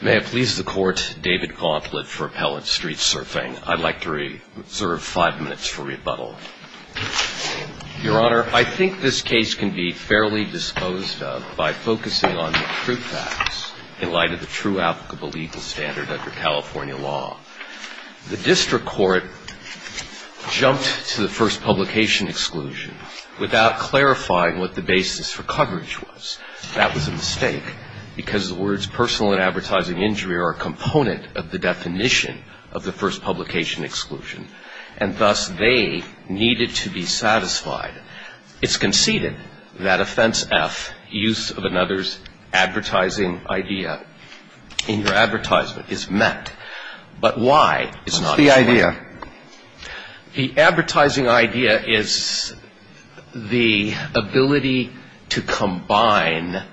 May it please the Court, David Gauntlett for Appellant Street Surfing. I'd like to reserve five minutes for rebuttal. Your Honor, I think this case can be fairly disposed of by focusing on the truth facts in light of the true applicable legal standard under California law. The District Court jumped to the first publication exclusion without clarifying what the basis for coverage was. That was a mistake because the words personal and advertising injury are a component of the definition of the first publication exclusion. And thus they needed to be satisfied. It's conceded that offense F, use of another's advertising idea in your advertisement is met. But why? It's not the idea. The advertising idea is the ability to combine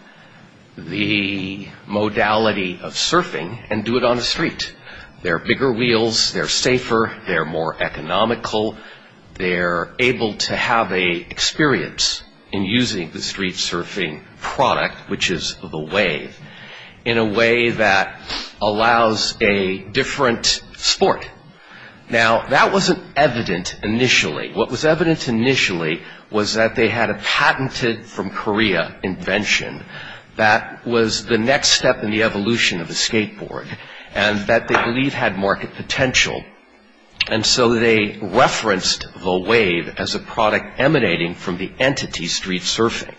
the modality of surfing and do it on the street. They're bigger wheels. They're safer. They're more economical. They're able to have a experience in using the street surfing product, which is the wave, in a way that allows a different sport. Now, that wasn't evident initially. What was evident initially was that they had a patented from Korea invention that was the next step in the evolution of the skateboard, and that they believed had market potential. And so they referenced the wave as a product emanating from the entity street surfing.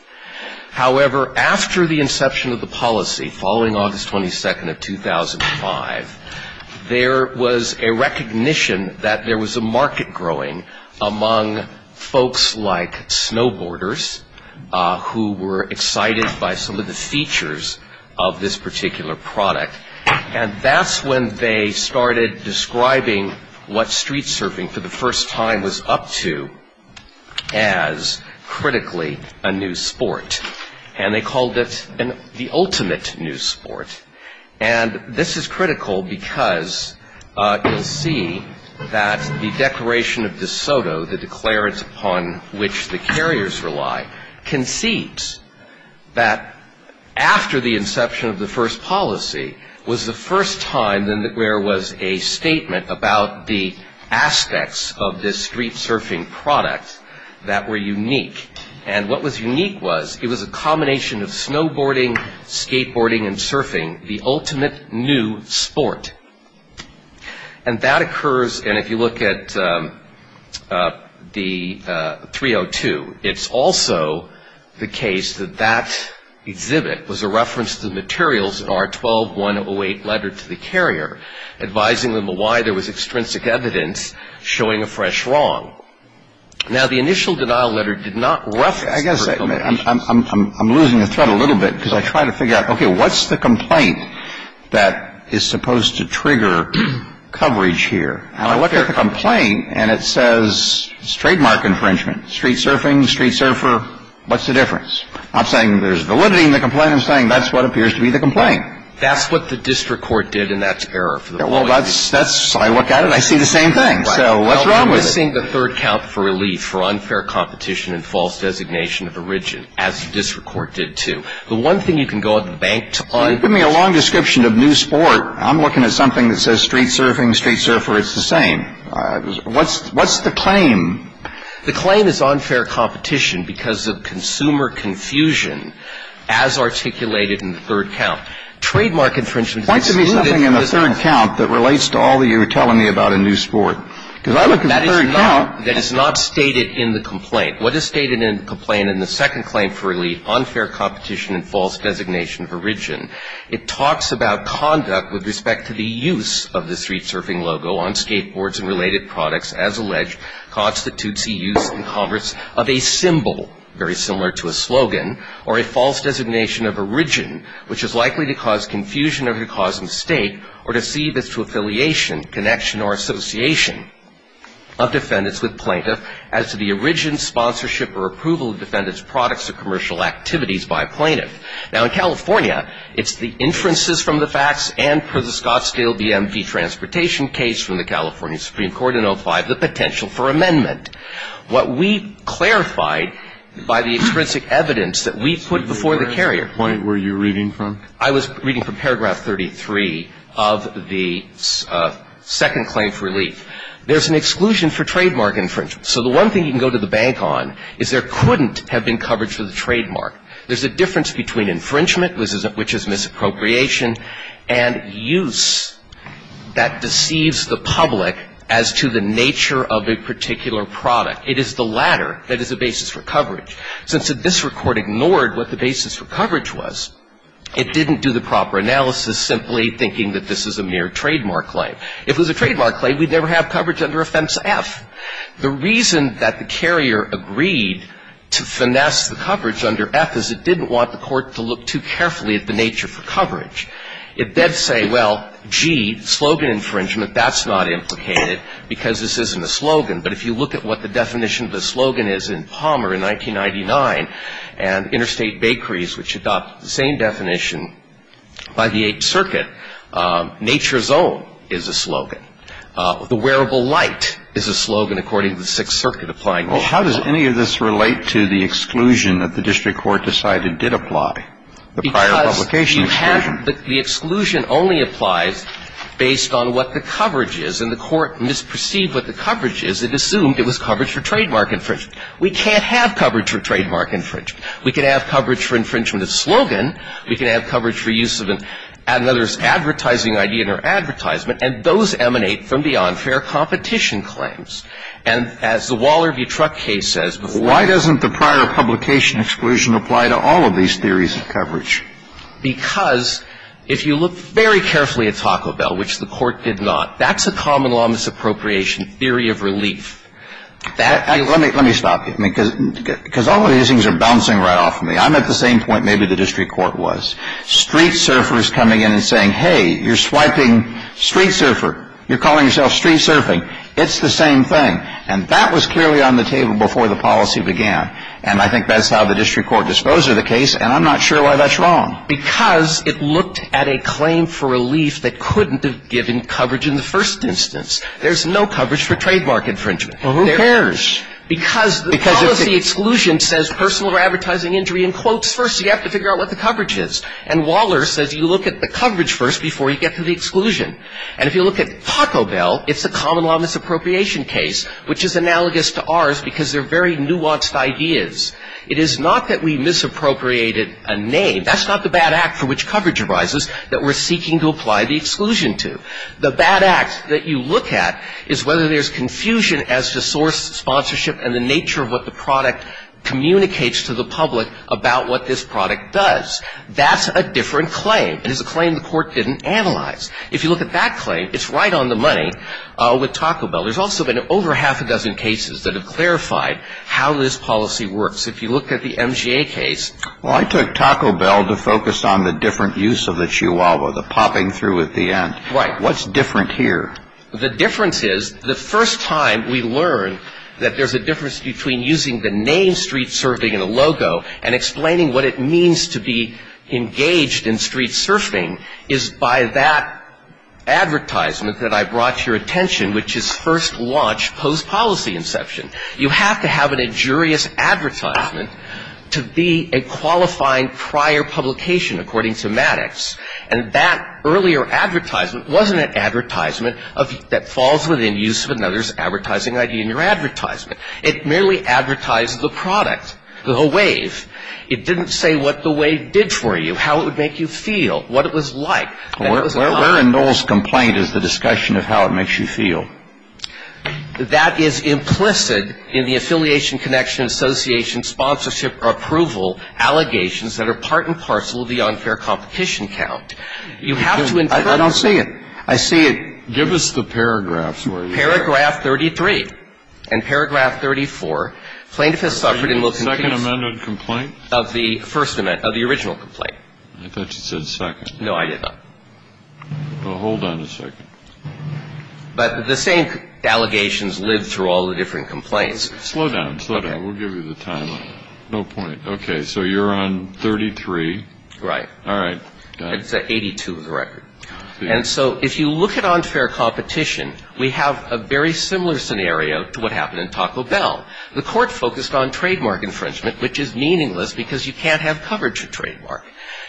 However, after the inception of the policy, following August 22nd of 2005, there was a recognition that there was a market growing among folks like snowboarders who were excited by some of the features of this particular product. And that's when they started describing what street surfing for the first time was up to as critically a new sport. And they called it the ultimate new sport. And this is critical because you'll see that the Declaration of De Soto, the declarance upon which the carriers rely, concedes that after the inception of the first policy was the first time that there was a statement about the aspects of this street surfing product that were unique. And what was unique was it was a combination of snowboarding, skateboarding, and surfing, the ultimate new sport. And that occurs, and if you look at the 302, it's also the case that that exhibit was a reference to the materials in our 12-108 letter to the carrier, advising them of why there was extrinsic evidence showing a fresh wrong. Now, the initial denial letter did not reference this particular piece. I'm losing the thread a little bit because I try to figure out, okay, what's the complaint that is supposed to trigger coverage here? And I look at the complaint, and it says it's trademark infringement. Street surfing, street surfer, what's the difference? I'm not saying there's validity in the complaint. I'm saying that's what appears to be the complaint. That's what the district court did, and that's error. Well, that's, I look at it, I see the same thing. So what's wrong with it? I'm missing the third count for relief for unfair competition and false designation of origin, as the district court did, too. The one thing you can go out to the bank to find. Give me a long description of new sport. I'm looking at something that says street surfing, street surfer. It's the same. What's the claim? The claim is unfair competition because of consumer confusion, as articulated in the third count. Point to me something in the third count that relates to all that you were telling me about a new sport. Because I look at the third count. That is not stated in the complaint. What is stated in the complaint in the second claim for relief, unfair competition and false designation of origin, it talks about conduct with respect to the use of the street surfing logo on skateboards and related products, as alleged constitutes the use in Congress of a symbol, very similar to a slogan, or a false designation of origin, which is likely to cause confusion or could cause mistake or deceive as to affiliation, connection or association of defendants with plaintiff as to the origin, sponsorship or approval of defendants' products or commercial activities by a plaintiff. Now, in California, it's the inferences from the facts and, per the Scottsdale DMV transportation case from the California Supreme Court in 05, the potential for amendment. What we clarified by the intrinsic evidence that we put before the carrier. What point were you reading from? I was reading from paragraph 33 of the second claim for relief. There's an exclusion for trademark infringement. So the one thing you can go to the bank on is there couldn't have been coverage for the trademark. There's a difference between infringement, which is misappropriation, and use that deceives the public as to the nature of a particular product. It is the latter that is a basis for coverage. Since the district court ignored what the basis for coverage was, it didn't do the proper analysis simply thinking that this is a mere trademark claim. If it was a trademark claim, we'd never have coverage under Offense F. The reason that the carrier agreed to finesse the coverage under F is it didn't want the court to look too carefully at the nature for coverage. It did say, well, gee, slogan infringement, that's not implicated because this isn't a slogan. But if you look at what the definition of the slogan is in Palmer in 1999 and Interstate Bakeries, which adopt the same definition by the Eighth Circuit, nature's own is a slogan. The wearable light is a slogan, according to the Sixth Circuit applying it. Well, how does any of this relate to the exclusion that the district court decided did apply, the prior publication exclusion? The exclusion only applies based on what the coverage is. And the court misperceived what the coverage is. It assumed it was coverage for trademark infringement. We can't have coverage for trademark infringement. We can have coverage for infringement of slogan. We can have coverage for use of an advertising idea in our advertisement. And those emanate from the unfair competition claims. And as the Waller v. Truck case says, why doesn't the prior publication exclusion apply to all of these theories of coverage? Because if you look very carefully at Taco Bell, which the court did not, that's a common law misappropriation theory of relief. Let me stop you. Because all of these things are bouncing right off of me. I'm at the same point maybe the district court was. Street surfers coming in and saying, hey, you're swiping street surfer. You're calling yourself street surfing. It's the same thing. And that was clearly on the table before the policy began. And I think that's how the district court disposed of the case. And I'm not sure why that's wrong. Because it looked at a claim for relief that couldn't have given coverage in the first instance. There's no coverage for trademark infringement. Well, who cares? Because the policy exclusion says personal or advertising injury in quotes first. You have to figure out what the coverage is. And Waller says you look at the coverage first before you get to the exclusion. And if you look at Taco Bell, it's a common law misappropriation case, which is analogous to ours because they're very nuanced ideas. It is not that we misappropriated a name. That's not the bad act for which coverage arises that we're seeking to apply the exclusion to. The bad act that you look at is whether there's confusion as to source, sponsorship, and the nature of what the product communicates to the public about what this product does. That's a different claim. It is a claim the court didn't analyze. If you look at that claim, it's right on the money with Taco Bell. There's also been over half a dozen cases that have clarified how this policy works. If you look at the MGA case. Well, I took Taco Bell to focus on the different use of the chihuahua, the popping through at the end. Right. What's different here? The difference is the first time we learned that there's a difference between using the name street surfing and a logo and explaining what it means to be engaged in street surfing is by that advertisement that I brought to your attention, which is first launch post policy inception. You have to have an injurious advertisement to be a qualifying prior publication, according to Maddox. And that earlier advertisement wasn't an advertisement that falls within use of another's advertising idea in your advertisement. It merely advertised the product, the wave. It didn't say what the wave did for you, how it would make you feel, what it was like. Where in Noel's complaint is the discussion of how it makes you feel? That is implicit in the Affiliation Connection Association sponsorship approval allegations that are part and parcel of the unfair competition count. You have to infer. I don't see it. I see it. Give us the paragraphs. Paragraph 33 and paragraph 34. Plaintiff has suffered in most cases. Second amended complaint? Of the first amendment, of the original complaint. I thought you said second. No, I did not. Well, hold on a second. But the same allegations live through all the different complaints. Slow down. Slow down. We'll give you the time. No point. Okay. So you're on 33. Right. All right. It's 82 of the record. And so if you look at unfair competition, we have a very similar scenario to what happened in Taco Bell. The court focused on trademark infringement, which is meaningless because you can't have coverage of trademark.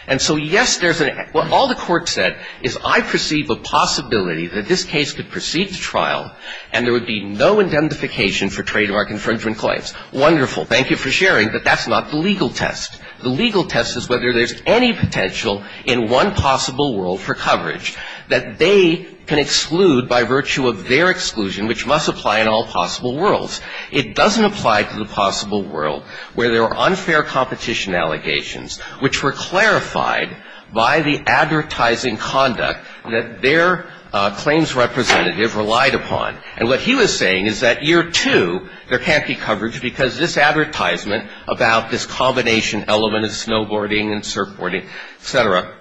And so, yes, there's an – all the court said is I perceive a possibility that this case could proceed to trial and there would be no indemnification for trademark infringement claims. Wonderful. Thank you for sharing, but that's not the legal test. The legal test is whether there's any potential in one possible world for coverage that they can exclude by virtue of their exclusion, which must apply in all possible worlds. It doesn't apply to the possible world where there are unfair competition allegations which were clarified by the advertising conduct that their claims representative relied upon. And what he was saying is that year two, there can't be coverage because this advertisement about this combination element of snowboarding and surfboarding, et cetera,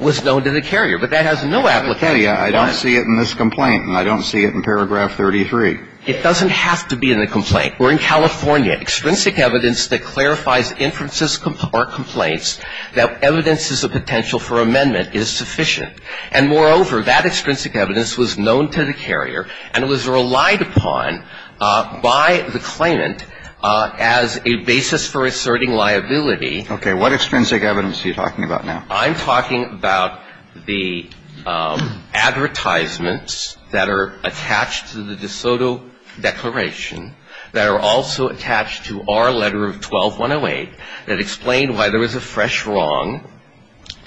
was known to the carrier. But that has no application. I don't see it in this complaint, and I don't see it in paragraph 33. It doesn't have to be in the complaint. We're in California. Extrinsic evidence that clarifies inferences or complaints that evidence is a potential for amendment is sufficient. And moreover, that extrinsic evidence was known to the carrier and was relied upon by the claimant as a basis for asserting liability. Okay. What extrinsic evidence are you talking about now? I'm talking about the advertisements that are attached to the De Soto Declaration that are also attached to our Letter of 12-108 that explain why there was a fresh wrong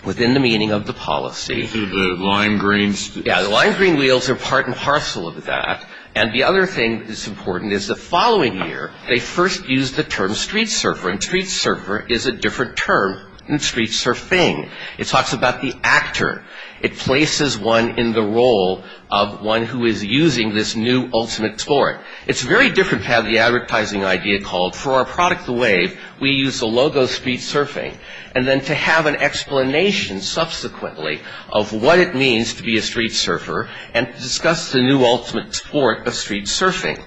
within the meaning of the policy. The lime green wheels. Yeah, the lime green wheels are part and parcel of that. And the other thing that's important is the following year, they first used the term street surfer, and street surfer is a different term than street surfing. It talks about the actor. It places one in the role of one who is using this new ultimate sport. It's very different to have the advertising idea called, for our product, the Wave, we use the logo street surfing, and then to have an explanation subsequently of what it means to be a street surfer and to discuss the new ultimate sport of street surfing.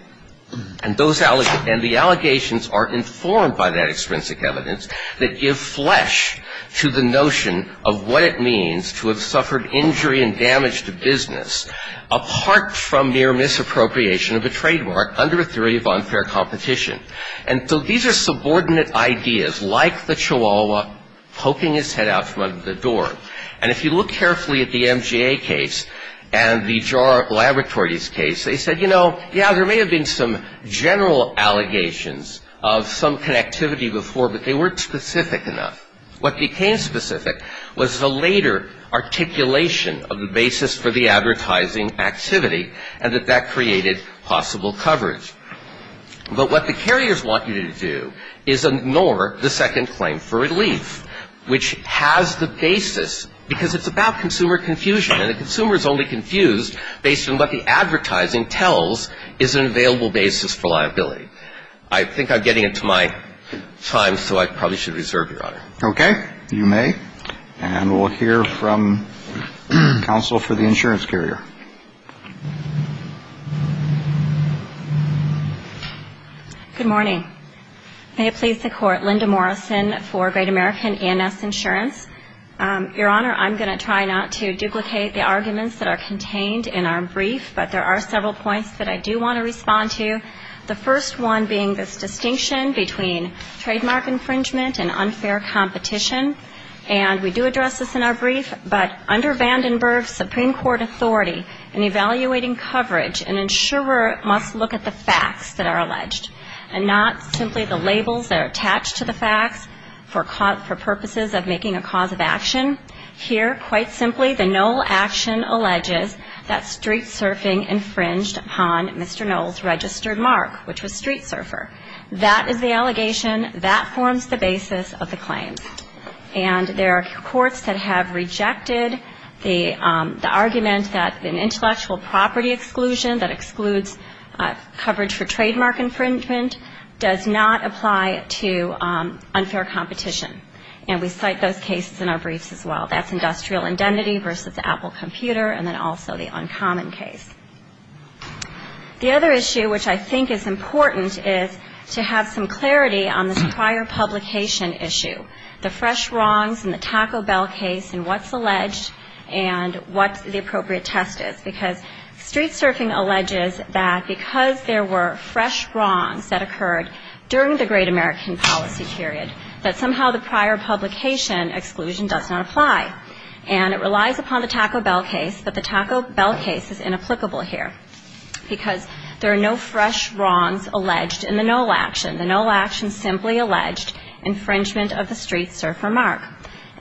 And those allegations, and the allegations are informed by that extrinsic evidence that give flesh to the notion of what it means to have suffered injury and damage to business apart from mere misappropriation of a trademark under a theory of unfair competition. And so these are subordinate ideas, like the Chihuahua poking his head out from under the door. And if you look carefully at the MGA case and the JAR Laboratories case, they said, you know, yeah, there may have been some general allegations of some connectivity before, but they weren't specific enough. What became specific was the later articulation of the basis for the advertising activity and that that created possible coverage. But what the carriers want you to do is ignore the second claim for relief, which has the basis because it's about consumer confusion, and the consumer is only confused based on what the advertising tells is an available basis for liability. I think I'm getting into my time, so I probably should reserve, Your Honor. Okay. You may. And we'll hear from counsel for the insurance carrier. Good morning. May it please the Court, Linda Morrison for Great American A&S Insurance. Your Honor, I'm going to try not to duplicate the arguments that are contained in our brief, but there are several points that I do want to respond to, the first one being this distinction between trademark infringement and unfair competition. And we do address this in our brief, but under Vandenberg's Supreme Court authority, in evaluating coverage, an insurer must look at the facts that are alleged and not simply the labels that are attached to the facts for purposes of making a cause of action. Here, quite simply, the Knoll action alleges that street surfing infringed upon Mr. Knoll's registered mark, which was street surfer. That is the allegation. That forms the basis of the claims. And there are courts that have rejected the argument that an intellectual property exclusion that excludes coverage for trademark infringement does not apply to unfair competition. And we cite those cases in our briefs as well. That's industrial indemnity versus Apple computer, and then also the uncommon case. The other issue, which I think is important, is to have some clarity on this prior publication issue, the fresh wrongs and the Taco Bell case and what's alleged and what the appropriate test is. Because street surfing alleges that because there were fresh wrongs that occurred during the great American policy period, that somehow the prior publication exclusion does not apply. And it relies upon the Taco Bell case, but the Taco Bell case is inapplicable here because there are no fresh wrongs alleged in the Knoll action. The Knoll action simply alleged infringement of the street surfer mark.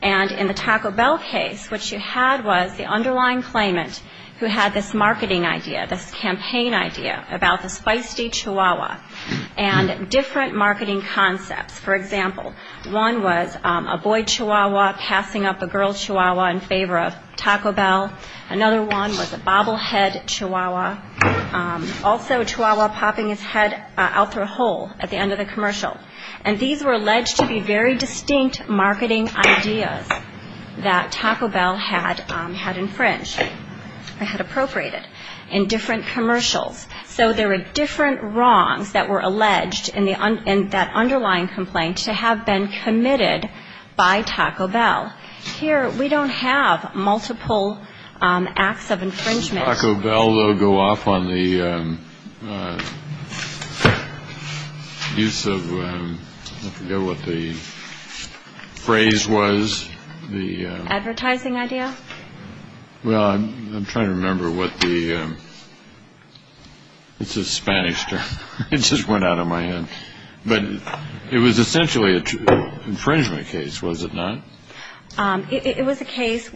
And in the Taco Bell case, what you had was the underlying claimant who had this marketing idea, this campaign idea about this feisty chihuahua and different marketing concepts. For example, one was a boy chihuahua passing up a girl chihuahua in favor of Taco Bell. Another one was a bobblehead chihuahua. Also a chihuahua popping his head out through a hole at the end of the commercial. And these were alleged to be very distinct marketing ideas that Taco Bell had infringed or had appropriated in different commercials. So there were different wrongs that were alleged in that underlying complaint to have been committed by Taco Bell. Here we don't have multiple acts of infringement. Did Taco Bell go off on the use of, I forget what the phrase was. The advertising idea. Well, I'm trying to remember what the, it's a Spanish term. It just went out of my head. But it was essentially an infringement case, was it not? It was a case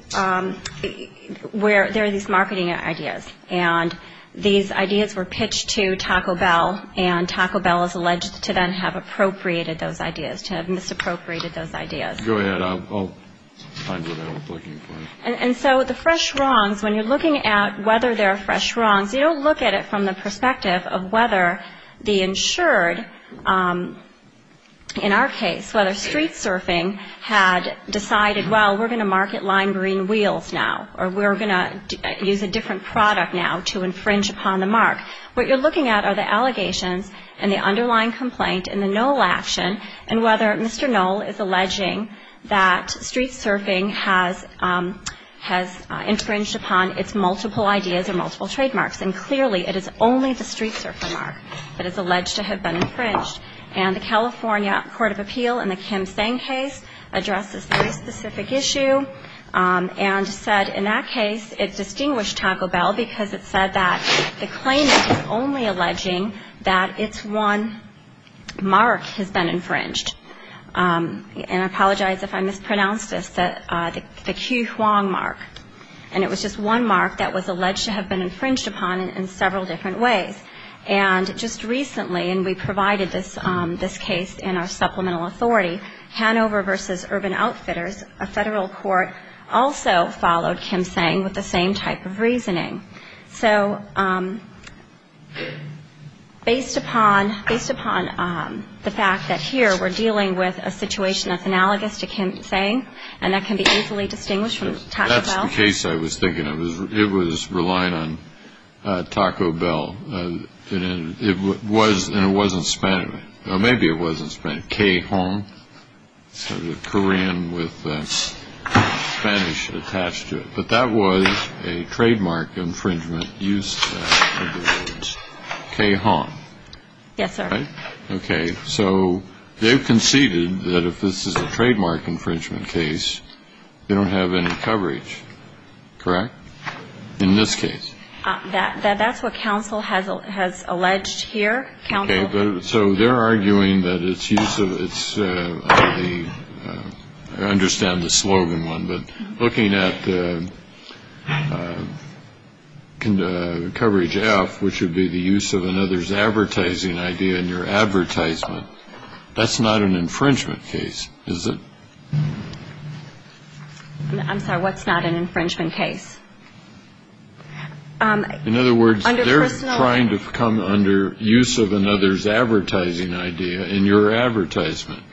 where there are these marketing ideas. And these ideas were pitched to Taco Bell. And Taco Bell is alleged to then have appropriated those ideas, to have misappropriated those ideas. Go ahead. I'll find what I'm looking for. And so the fresh wrongs, when you're looking at whether there are fresh wrongs, you don't look at it from the perspective of whether the insured, in our case, whether Street Surfing had decided, well, we're going to market lime green wheels now, or we're going to use a different product now to infringe upon the mark. What you're looking at are the allegations and the underlying complaint and the NOL action, and whether Mr. NOL is alleging that Street Surfing has infringed upon its multiple ideas or multiple trademarks. And clearly, it is only the Street Surfer mark that is alleged to have been infringed. And the California Court of Appeal in the Kim-Tsang case addressed this very specific issue and said in that case it distinguished Taco Bell because it said that the claimant is only alleging that its one mark has been infringed. And I apologize if I mispronounced this, the Kyu-Hwang mark. And it was just one mark that was alleged to have been infringed upon in several different ways. And just recently, and we provided this case in our supplemental authority, Hanover v. Urban Outfitters, a federal court, also followed Kim-Tsang with the same type of reasoning. So based upon the fact that here we're dealing with a situation that's analogous to Kim-Tsang and that can be easily distinguished from Taco Bell. That's the case I was thinking of. It was relying on Taco Bell. And it was, and it wasn't Spanish. Well, maybe it wasn't Spanish. Kyu-Hwang, sort of the Korean with the Spanish attached to it. But that was a trademark infringement used under the words Kyu-Hwang. Yes, sir. All right. Okay. So they've conceded that if this is a trademark infringement case, they don't have any coverage. Correct? In this case. That's what counsel has alleged here. Counsel. Okay. So they're arguing that its use of the, I understand the slogan one, but looking at the coverage F, which would be the use of another's advertising idea in your advertisement, that's not an infringement case, is it? I'm sorry. What's not an infringement case? In other words, they're trying to come under use of another's advertising idea in your advertisement.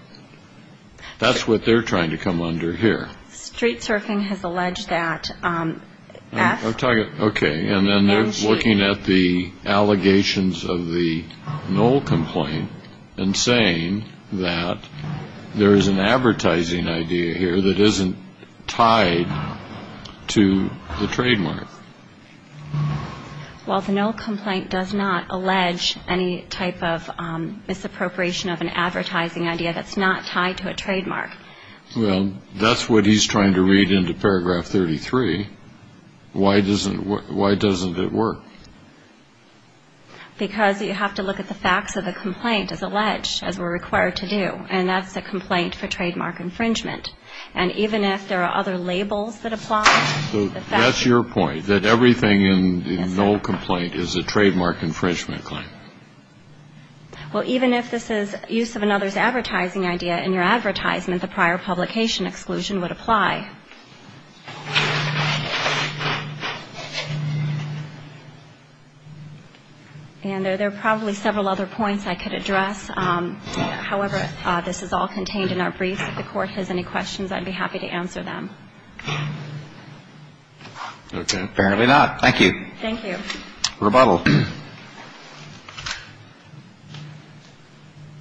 That's what they're trying to come under here. Street surfing has alleged that F. Okay. And then they're looking at the allegations of the null complaint and saying that there is an advertising idea here that isn't tied to the trademark. Well, the null complaint does not allege any type of misappropriation of an advertising idea that's not tied to a trademark. Well, that's what he's trying to read into paragraph 33. Why doesn't it work? Because you have to look at the facts of the complaint as alleged, as we're required to do, and that's a complaint for trademark infringement. And even if there are other labels that apply. That's your point, that everything in the null complaint is a trademark infringement claim. Well, even if this is use of another's advertising idea in your advertisement, the prior publication exclusion would apply. And there are probably several other points I could address. However, this is all contained in our briefs. If the Court has any questions, I'd be happy to answer them. Okay. Fairly not. Thank you. Thank you. Rebuttal.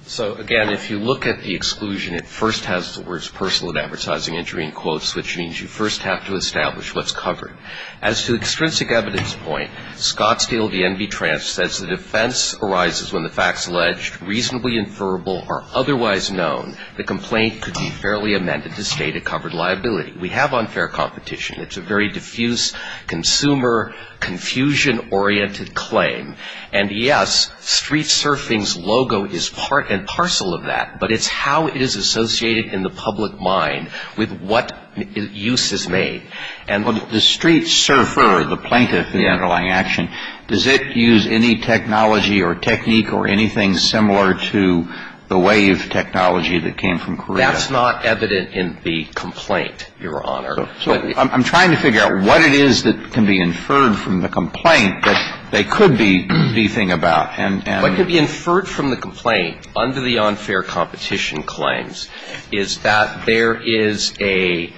So, again, if you look at the exclusion, it first has the words personal advertising injury in quotes, which means you first have to establish what's covered. As to extrinsic evidence point, Scottsdale v. N.B. Trance says the defense arises when the facts alleged, reasonably inferable or otherwise known, the complaint could be fairly amended to state a covered liability. We have unfair competition. It's a very diffuse, consumer, confusion-oriented claim. And, yes, street surfing's logo is part and parcel of that, but it's how it is associated in the public mind with what use is made. And the street surfer, the plaintiff, the underlying action, does it use any technology or technique or anything similar to the wave technology that came from Korea? That's not evident in the complaint, Your Honor. So I'm trying to figure out what it is that can be inferred from the complaint that they could be briefing about. What could be inferred from the complaint under the unfair competition claims is that there is a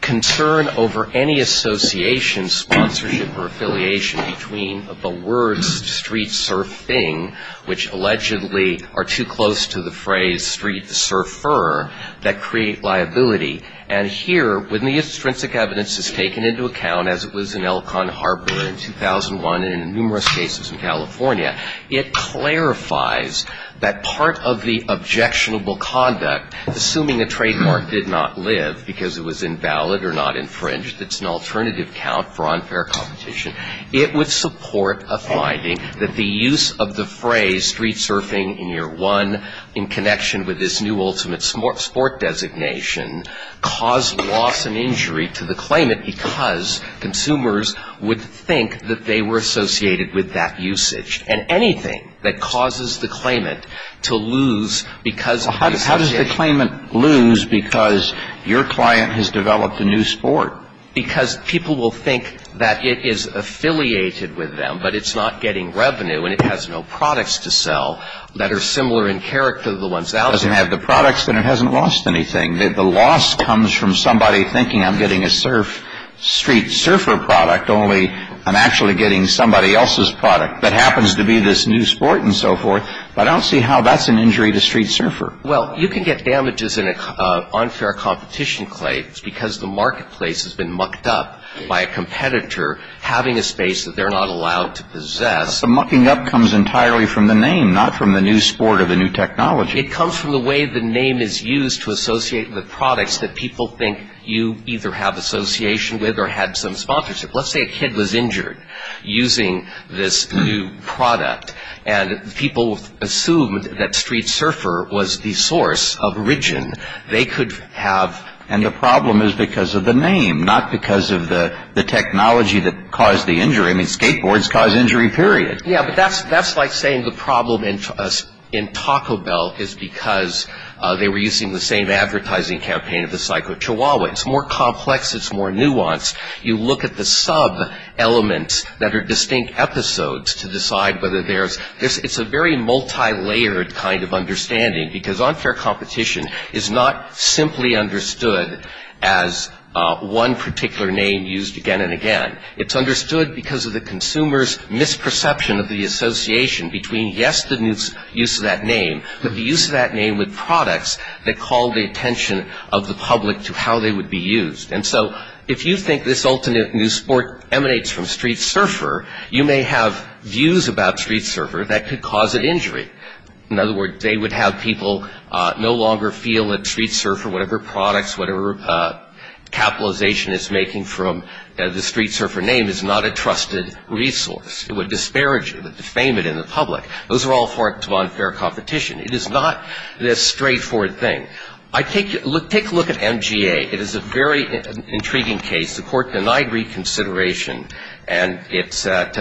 concern over any association, sponsorship, or affiliation between the words street surfing, which allegedly are too close to the phrase street surfer, that create liability. And here, when the extrinsic evidence is taken into account, as it was in Elkhorn Harbor in 2001 and in numerous cases in California, it clarifies that part of the objectionable conduct, assuming a trademark did not live because it was invalid or not infringed, it's an alternative count for unfair competition, it would support a finding that the use of the phrase street surfing in year one, in connection with this new ultimate sport designation, caused loss and injury to the claimant because consumers would think that they were associated with that usage. And anything that causes the claimant to lose because of the association How does the claimant lose because your client has developed a new sport? Because people will think that it is affiliated with them, but it's not getting revenue and it has no products to sell that are similar in character to the ones out there. It doesn't have the products, then it hasn't lost anything. The loss comes from somebody thinking I'm getting a surf, street surfer product, only I'm actually getting somebody else's product. That happens to be this new sport and so forth, but I don't see how that's an injury to street surfer. Well, you can get damages in an unfair competition claim because the marketplace has been mucked up by a competitor having a space that they're not allowed to possess. The mucking up comes entirely from the name, not from the new sport or the new technology. It comes from the way the name is used to associate with products that people think you either have association with or had some sponsorship. Let's say a kid was injured using this new product and people assumed that street surfer was the source of origin. They could have... And the problem is because of the name, not because of the technology that caused the injury. I mean, skateboards cause injury, period. Yeah, but that's like saying the problem in Taco Bell is because they were using the same advertising campaign of the psycho chihuahua. It's more complex, it's more nuanced. You look at the sub-elements that are distinct episodes to decide whether there's... It's a very multi-layered kind of understanding because unfair competition is not simply understood as one particular name used again and again. It's understood because of the consumer's misperception of the association between, yes, the use of that name, but the use of that name with products that call the attention of the public to how they would be used. And so if you think this ultimate new sport emanates from street surfer, you may have views about street surfer that could cause an injury. In other words, they would have people no longer feel that street surfer, whatever products, whatever capitalization it's making from the street surfer name, is not a trusted resource. It would disparage it, defame it in the public. Those are all forms of unfair competition. It is not this straightforward thing. Take a look at MGA. It is a very intriguing case. The Court denied reconsideration. And it's at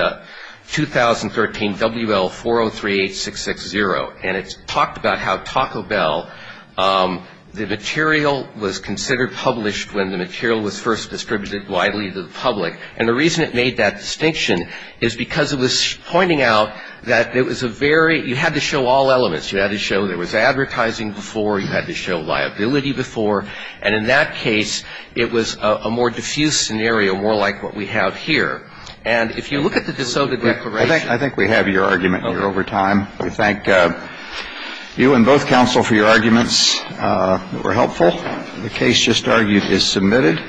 2013 WL4038660. And it's talked about how Taco Bell, the material was considered published when the material was first distributed widely to the public. And the reason it made that distinction is because it was pointing out that there was a very... You had to show all elements. You had to show there was advertising before. You had to show liability before. And in that case, it was a more diffuse scenario, more like what we have here. And if you look at the dissoded declaration... I think we have your argument here over time. We thank you and both counsel for your arguments that were helpful. The case just argued is submitted.